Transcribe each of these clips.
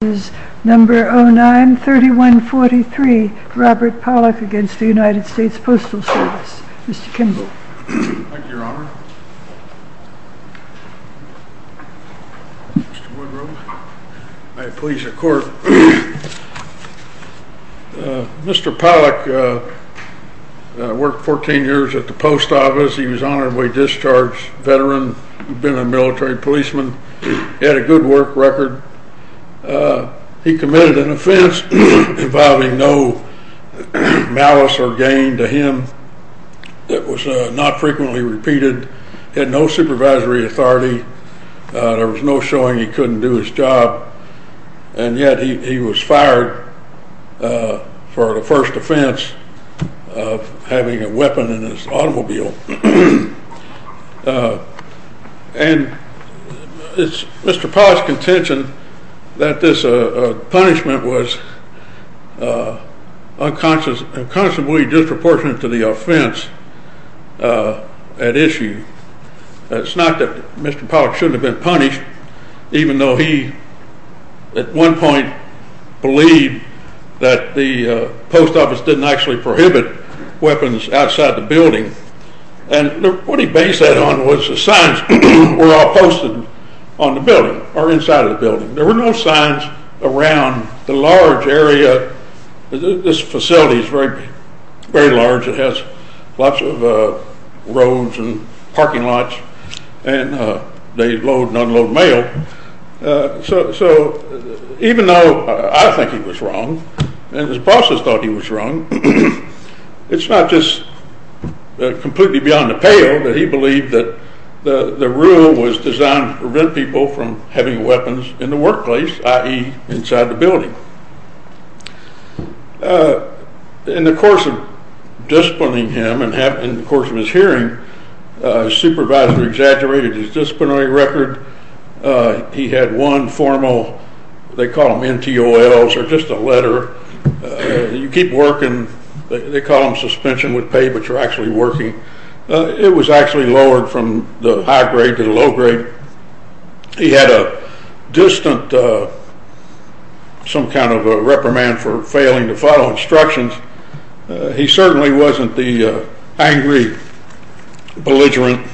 This is number 09-3143, Robert Pollack against the United States Postal Service. Mr. Kimball. Thank you, Your Honor. Mr. Woodrow. May it please the Court. Mr. Pollack worked 14 years at the Post Office. He was an honorably discharged veteran. He'd been a military policeman. He had a good work record. He committed an offense involving no malice or gain to him that was not frequently repeated. He had no supervisory authority. There was no showing he couldn't do his job. And yet he was fired for the first offense of having a weapon in his automobile. And it's Mr. Pollack's contention that this punishment was unconscionably disproportionate to the offense at issue. It's not that Mr. Pollack shouldn't have been punished, even though he, at one point, believed that the Post Office didn't actually prohibit weapons outside the building. And what he based that on was the signs were all posted on the building or inside the building. There were no signs around the large area. This facility is very large. It has lots of roads and parking lots, and they load and unload mail. So even though I think he was wrong and his bosses thought he was wrong, it's not just completely beyond a pale that he believed that the rule was designed to prevent people from having weapons in the workplace, In the course of disciplining him and in the course of his hearing, his supervisor exaggerated his disciplinary record. He had one formal, they call them NTOLs, or just a letter. You keep working, they call them suspension with pay, but you're actually working. It was actually lowered from the high grade to the low grade. He had a distant, some kind of a reprimand for failing to follow instructions. He certainly wasn't the angry, belligerent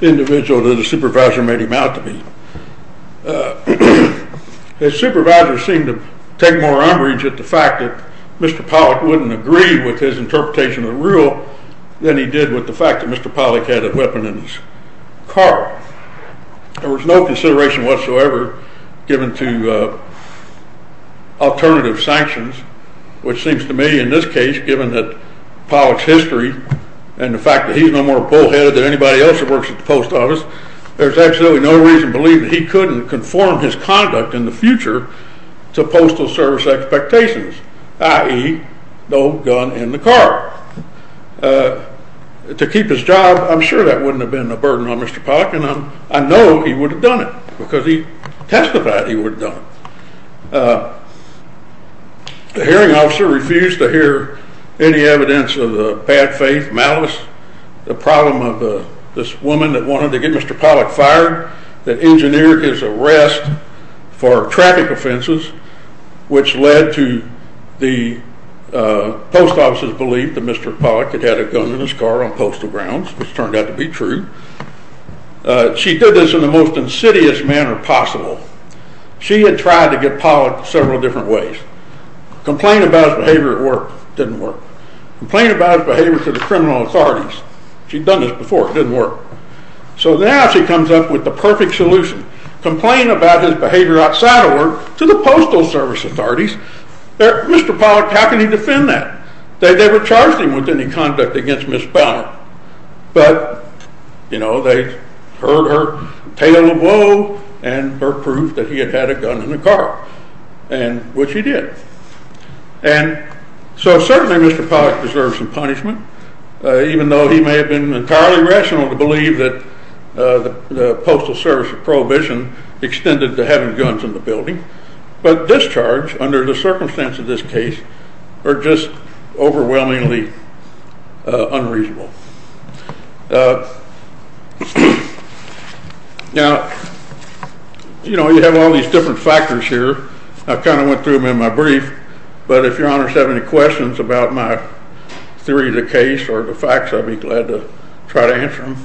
individual that his supervisor made him out to be. His supervisor seemed to take more umbrage at the fact that Mr. Pollack wouldn't agree with his interpretation of the rule than he did with the fact that Mr. Pollack had a weapon in his car. There was no consideration whatsoever given to alternative sanctions, which seems to me in this case, given that Pollack's history and the fact that he's no more bullheaded than anybody else that works at the post office, there's absolutely no reason to believe that he couldn't conform his conduct in the future to postal service expectations, i.e. no gun in the car. To keep his job, I'm sure that wouldn't have been a burden on Mr. Pollack, and I know he would have done it because he testified he would have done it. The hearing officer refused to hear any evidence of the bad faith, malice, the problem of this woman that wanted to get Mr. Pollack fired, that engineered his arrest for traffic offenses, which led to the post office's belief that Mr. Pollack had had a gun in his car on postal grounds, which turned out to be true. She did this in the most insidious manner possible. She had tried to get Pollack several different ways. Complained about his behavior at work, didn't work. Complained about his behavior to the criminal authorities, she'd done this before, didn't work. So now she comes up with the perfect solution. Complain about his behavior outside of work to the postal service authorities. Mr. Pollack, how can he defend that? They never charged him with any conduct against Ms. Banner. But, you know, they heard her tale of woe and her proof that he had had a gun in the car, which he did. And so certainly Mr. Pollack deserves some punishment, even though he may have been entirely rational to believe that the Postal Service of Prohibition extended to having guns in the building. But discharge, under the circumstance of this case, are just overwhelmingly unreasonable. Now, you know, you have all these different factors here. I kind of went through them in my brief. But if your honors have any questions about my theory of the case or the facts, I'd be glad to try to answer them.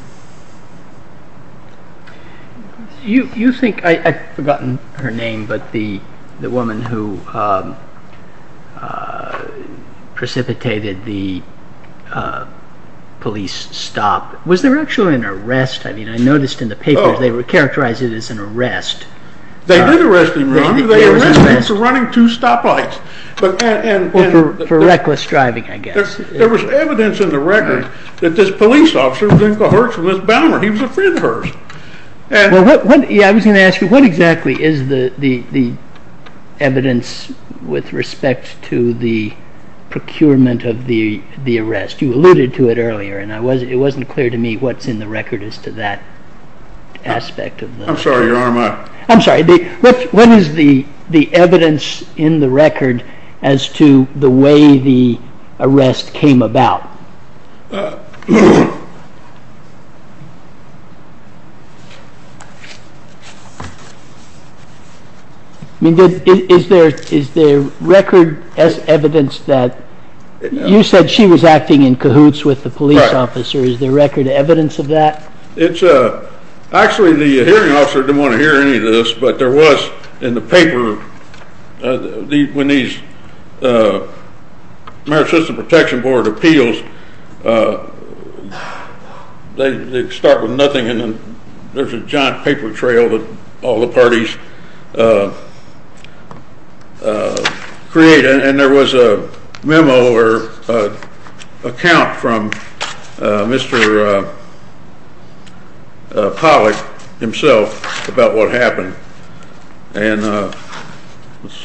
You think, I've forgotten her name, but the woman who precipitated the police stop, was there actually an arrest? I mean, I noticed in the papers they characterized it as an arrest. They did arrest him, Ron. They arrested him for running two stoplights. For reckless driving, I guess. There was evidence in the record that this police officer was in cahoots with Ms. Banner. He was a friend of hers. I was going to ask you, what exactly is the evidence with respect to the procurement of the arrest? You alluded to it earlier, and it wasn't clear to me what's in the record as to that aspect. I'm sorry, your honor. I'm sorry. What is the evidence in the record as to the way the arrest came about? Is there record evidence that you said she was acting in cahoots with the police officer? Is there record evidence of that? Actually, the hearing officer didn't want to hear any of this, but there was in the paper, when these American System Protection Board appeals, they start with nothing, and then there's a giant paper trail that all the parties create. There was a memo or account from Mr. Pollack himself about what happened. Let's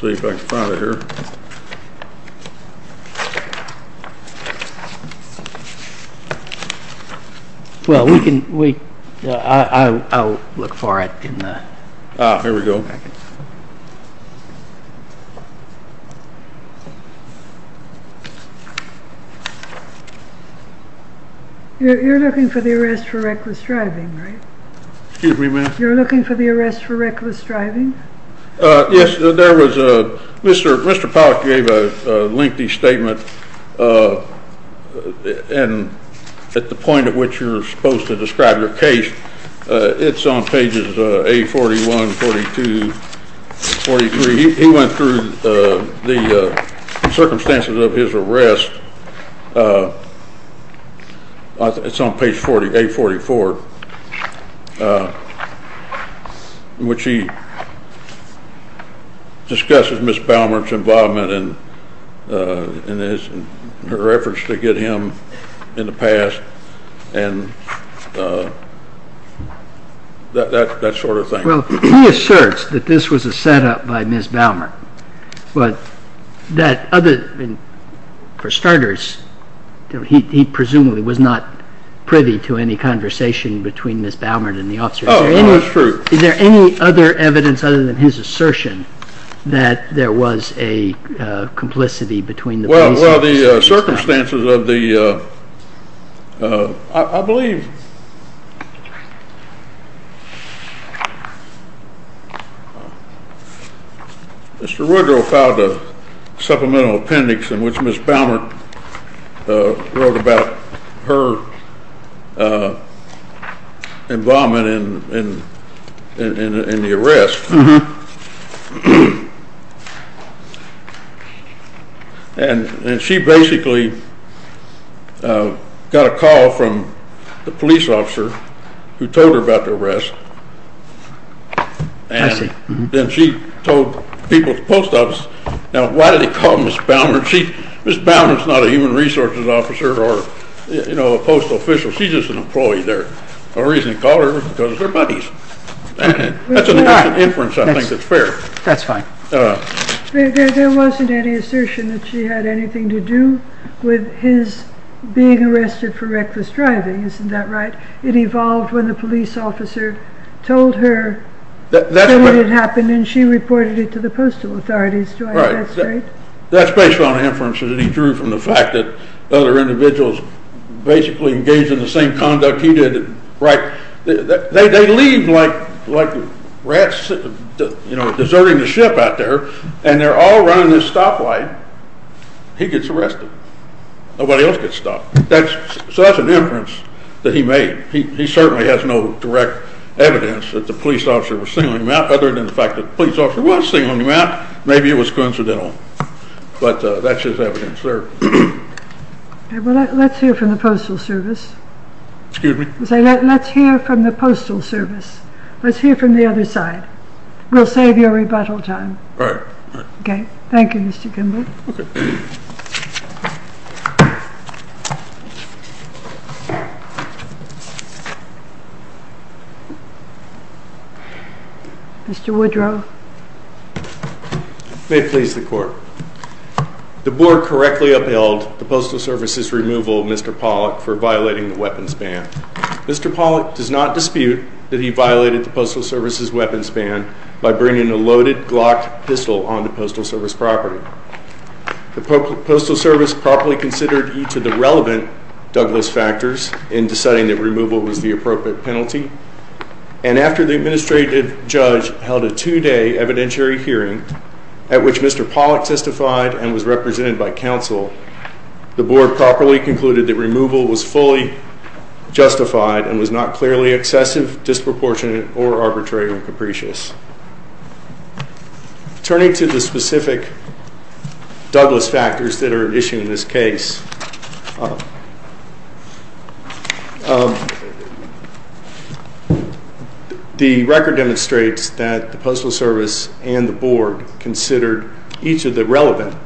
see if I can find it here. Well, I'll look for it. Ah, here we go. You're looking for the arrest for reckless driving, right? Excuse me, ma'am? You're looking for the arrest for reckless driving? Yes, Mr. Pollack gave a lengthy statement at the point at which you're supposed to describe your case. It's on pages A41, 42, 43. He went through the circumstances of his arrest. It's on page A44, which he discusses Ms. Baumert's involvement and her efforts to get him in the past and that sort of thing. Well, he asserts that this was a set-up by Ms. Baumert, but for starters, he presumably was not privy to any conversation between Ms. Baumert and the officers. Oh, that's true. Is there any other evidence other than his assertion that there was a complicity between the parties? Well, the circumstances of the, I believe Mr. Woodrow filed a supplemental appendix in which Ms. Baumert wrote about her involvement in the arrest. And she basically got a call from the police officer who told her about the arrest. And then she told people at the post office, now why did he call Ms. Baumert? Ms. Baumert's not a human resources officer or a post official. She's just an employee there. The reason he called her was because they're buddies. That's an inference I think that's fair. That's fine. There wasn't any assertion that she had anything to do with his being arrested for reckless driving. Isn't that right? It evolved when the police officer told her what had happened and she reported it to the postal authorities. Do I have that straight? That's based on inferences that he drew from the fact that other individuals basically engaged in the same conduct he did. They leave like rats deserting the ship out there and they're all running this stoplight. He gets arrested. Nobody else gets stopped. So that's an inference that he made. He certainly has no direct evidence that the police officer was singling him out other than the fact that the police officer was singling him out. Maybe it was coincidental. But that's just evidence there. Let's hear from the Postal Service. Excuse me? Let's hear from the Postal Service. Let's hear from the other side. We'll save your rebuttal time. All right. Okay. Thank you, Mr. Kimball. Okay. Mr. Woodrow. May it please the Court. The Board correctly upheld the Postal Service's removal of Mr. Pollack for violating the weapons ban. Mr. Pollack does not dispute that he violated the Postal Service's weapons ban by bringing a loaded Glock pistol onto Postal Service property. The Postal Service properly considered each of the relevant Douglas factors in deciding that removal was the appropriate penalty, and after the administrative judge held a two-day evidentiary hearing at which Mr. Pollack testified and was represented by counsel, the Board properly concluded that removal was fully justified and was not clearly excessive, disproportionate, or arbitrary or capricious. Turning to the specific Douglas factors that are at issue in this case, the record demonstrates that the Postal Service and the Board considered each of the relevant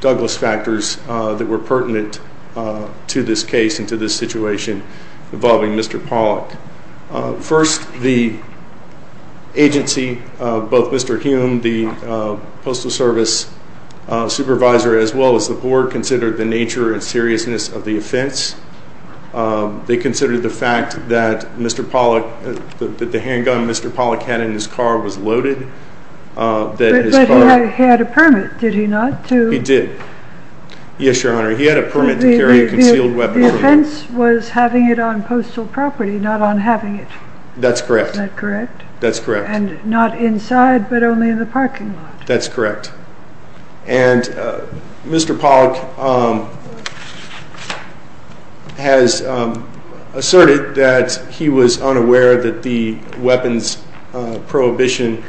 Douglas factors that were pertinent to this case and to this situation involving Mr. Pollack. First, the agency, both Mr. Hume, the Postal Service supervisor, as well as the Board, considered the nature and seriousness of the offense. They considered the fact that the handgun Mr. Pollack had in his car was loaded. But he had a permit, did he not? He did. Yes, Your Honor. He had a permit to carry a concealed weapon. The offense was having it on postal property, not on having it. That's correct. Is that correct? That's correct. And not inside, but only in the parking lot. That's correct. And Mr. Pollack has asserted that he was unaware that the weapons prohibition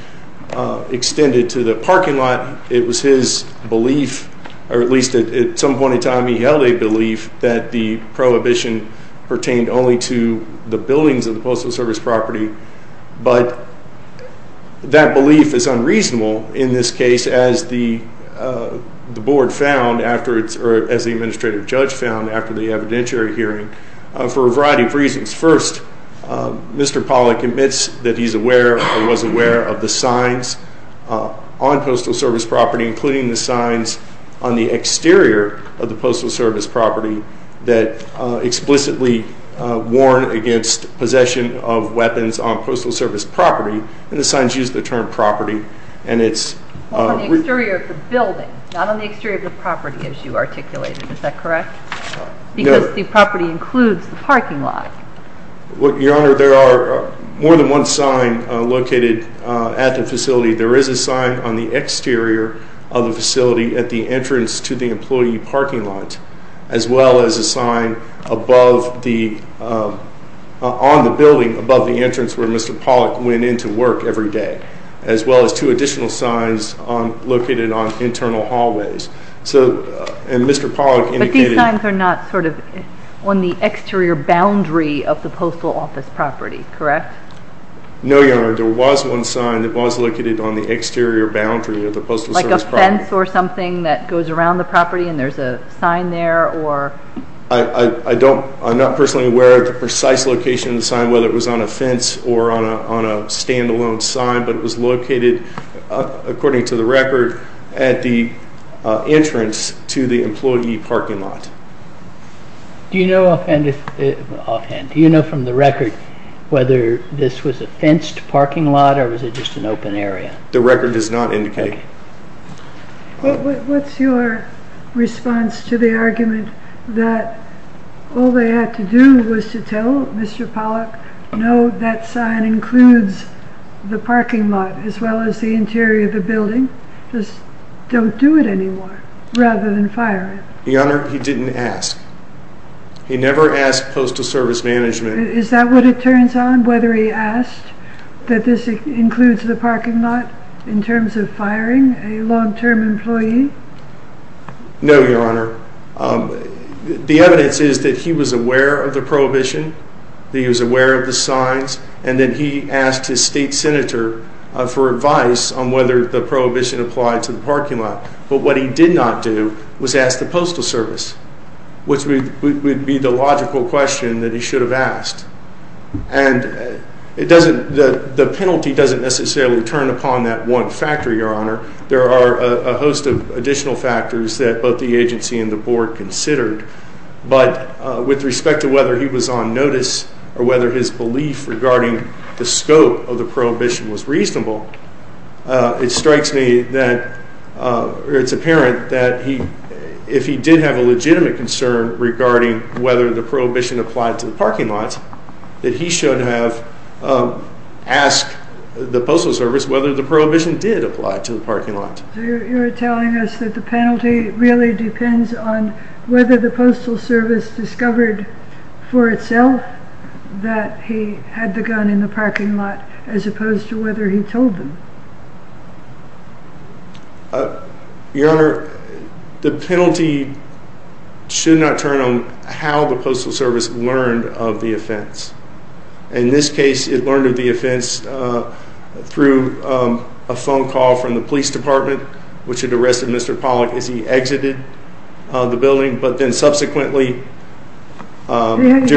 extended to the parking lot. It was his belief, or at least at some point in time he held a belief, that the prohibition pertained only to the buildings of the Postal Service property. But that belief is unreasonable in this case, as the Board found, or as the Administrative Judge found, after the evidentiary hearing, for a variety of reasons. First, Mr. Pollack admits that he's aware, or was aware, of the signs on Postal Service property, including the signs on the exterior of the Postal Service property that explicitly warn against possession of weapons on Postal Service property. And the signs use the term property, and it's... On the exterior of the building, not on the exterior of the property, as you articulated. Is that correct? No. Because the property includes the parking lot. Your Honor, there are more than one sign located at the facility. There is a sign on the exterior of the facility at the entrance to the employee parking lot, as well as a sign on the building above the entrance where Mr. Pollack went in to work every day, as well as two additional signs located on internal hallways. And Mr. Pollack indicated... But these signs are not on the exterior boundary of the Postal Office property, correct? No, Your Honor. There was one sign that was located on the exterior boundary of the Postal Service property. Like a fence or something that goes around the property, and there's a sign there or... I'm not personally aware of the precise location of the sign, whether it was on a fence or on a standalone sign, but it was located, according to the record, at the entrance to the employee parking lot. Do you know offhand, do you know from the record whether this was a fenced parking lot or was it just an open area? The record does not indicate. What's your response to the argument that all they had to do was to tell Mr. Pollack, no, that sign includes the parking lot, as well as the interior of the building, just don't do it anymore, rather than fire it? Your Honor, he didn't ask. He never asked Postal Service management... Is that what it turns on, whether he asked that this includes the parking lot in terms of firing a long-term employee? No, Your Honor. The evidence is that he was aware of the prohibition, that he was aware of the signs, and that he asked his state senator for advice on whether the prohibition applied to the parking lot. But what he did not do was ask the Postal Service, which would be the logical question that he should have asked. And the penalty doesn't necessarily turn upon that one factor, Your Honor. There are a host of additional factors that both the agency and the board considered. But with respect to whether he was on notice or whether his belief regarding the scope of the prohibition was reasonable, it's apparent that if he did have a legitimate concern regarding whether the prohibition applied to the parking lot, that he should have asked the Postal Service whether the prohibition did apply to the parking lot. So you're telling us that the penalty really depends on whether the Postal Service discovered for itself that he had the gun in the parking lot as opposed to whether he told them. Your Honor, the penalty should not turn on how the Postal Service learned of the offense. In this case, it learned of the offense through a phone call from the police department, which had arrested Mr. Pollack as he exited the building, but then subsequently... He had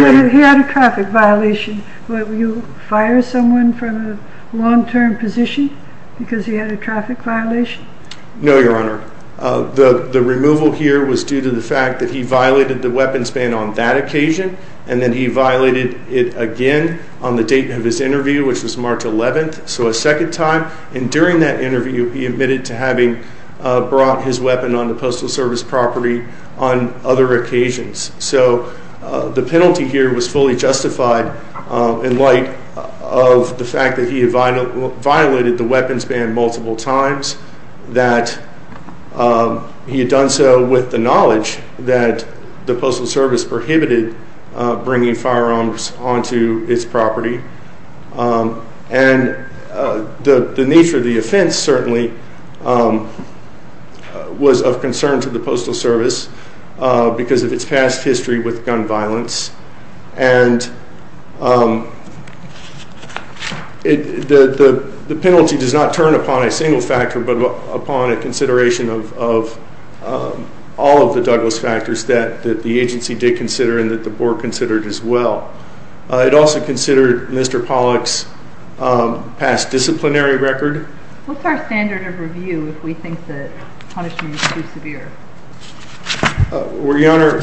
a traffic violation. Would you fire someone from a long-term position because he had a traffic violation? No, Your Honor. The removal here was due to the fact that he violated the weapons ban on that occasion, and then he violated it again on the date of his interview, which was March 11th, so a second time. And during that interview, he admitted to having brought his weapon on the Postal Service property on other occasions. So the penalty here was fully justified in light of the fact that he had violated the weapons ban multiple times, that he had done so with the knowledge that the Postal Service prohibited bringing firearms onto its property. And the nature of the offense, certainly, was of concern to the Postal Service because of its past history with gun violence. And the penalty does not turn upon a single factor but upon a consideration of all of the Douglas factors that the agency did consider and that the Board considered as well. It also considered Mr. Pollack's past disciplinary record. What's our standard of review if we think that punishment is too severe? Your Honor,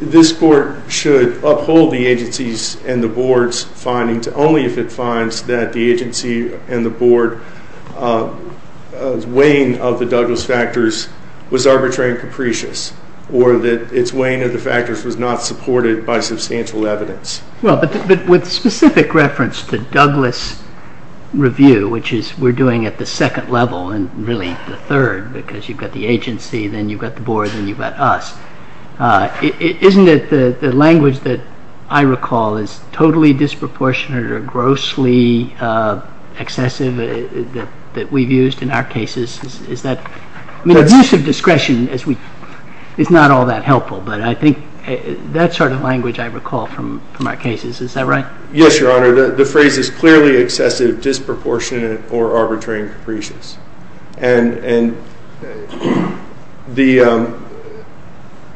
this Court should uphold the agency's and the Board's findings only if it finds that the agency and the Board's weighing of the Douglas factors was arbitrary and capricious, or that its weighing of the factors was not supported by substantial evidence. Well, but with specific reference to Douglas review, which we're doing at the second level, and really the third because you've got the agency, then you've got the Board, then you've got us, isn't it the language that I recall is totally disproportionate or grossly excessive that we've used in our cases? Is that? I mean, abusive discretion is not all that helpful, but I think that sort of language I recall from our cases. Is that right? Yes, Your Honor. The phrase is clearly excessive, disproportionate, or arbitrary and capricious. And the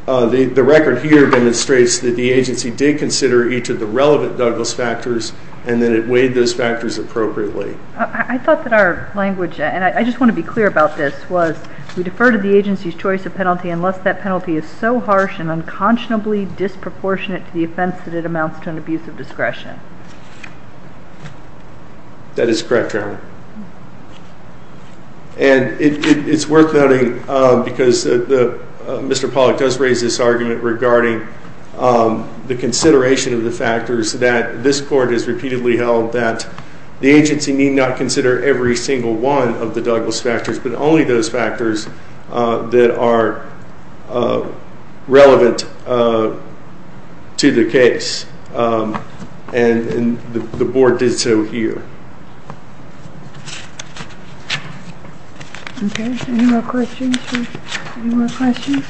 record here demonstrates that the agency did consider each of the relevant Douglas factors and that it weighed those factors appropriately. I thought that our language, and I just want to be clear about this, was we defer to the agency's choice of penalty unless that penalty is so harsh and unconscionably disproportionate to the offense that it amounts to an abuse of discretion. That is correct, Your Honor. And it's worth noting because Mr. Pollack does raise this argument regarding the consideration of the factors that this Court has repeatedly held that the agency need not consider every single one of the Douglas factors but only those factors that are relevant to the case. And the Board did so here. Okay. Any more questions? Any more questions?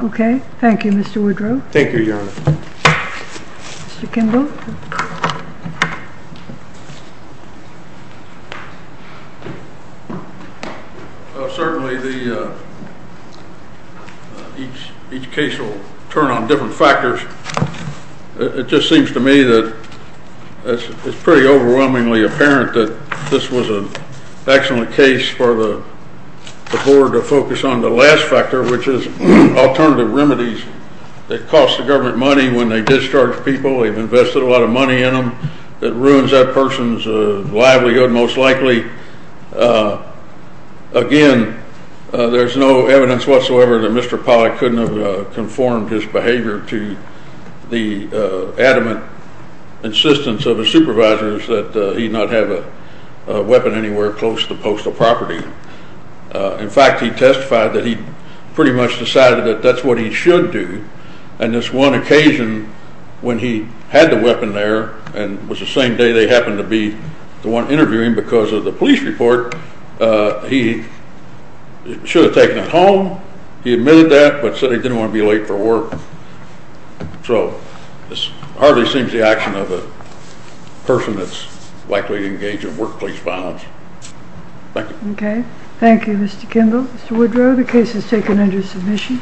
Okay. Thank you, Mr. Woodrow. Thank you, Your Honor. Mr. Kimball. Certainly, each case will turn on different factors. It just seems to me that it's pretty overwhelmingly apparent that this was an excellent case for the Board to focus on the last factor, which is alternative remedies that cost the government money when they discharge people. They've invested a lot of money in them. It ruins that person's livelihood most likely. Again, there's no evidence whatsoever that Mr. Pollack couldn't have conformed his behavior to the adamant insistence of his supervisors that he not have a weapon anywhere close to the postal property. In fact, he testified that he pretty much decided that that's what he should do. And this one occasion when he had the weapon there and was the same day they happened to be the one interviewing because of the police report, he should have taken it home. He admitted that but said he didn't want to be late for work. So this hardly seems the action of a person that's likely to engage in workplace violence. Thank you. Okay. Thank you, Mr. Kimball. Mr. Woodrow, the case is taken under submission.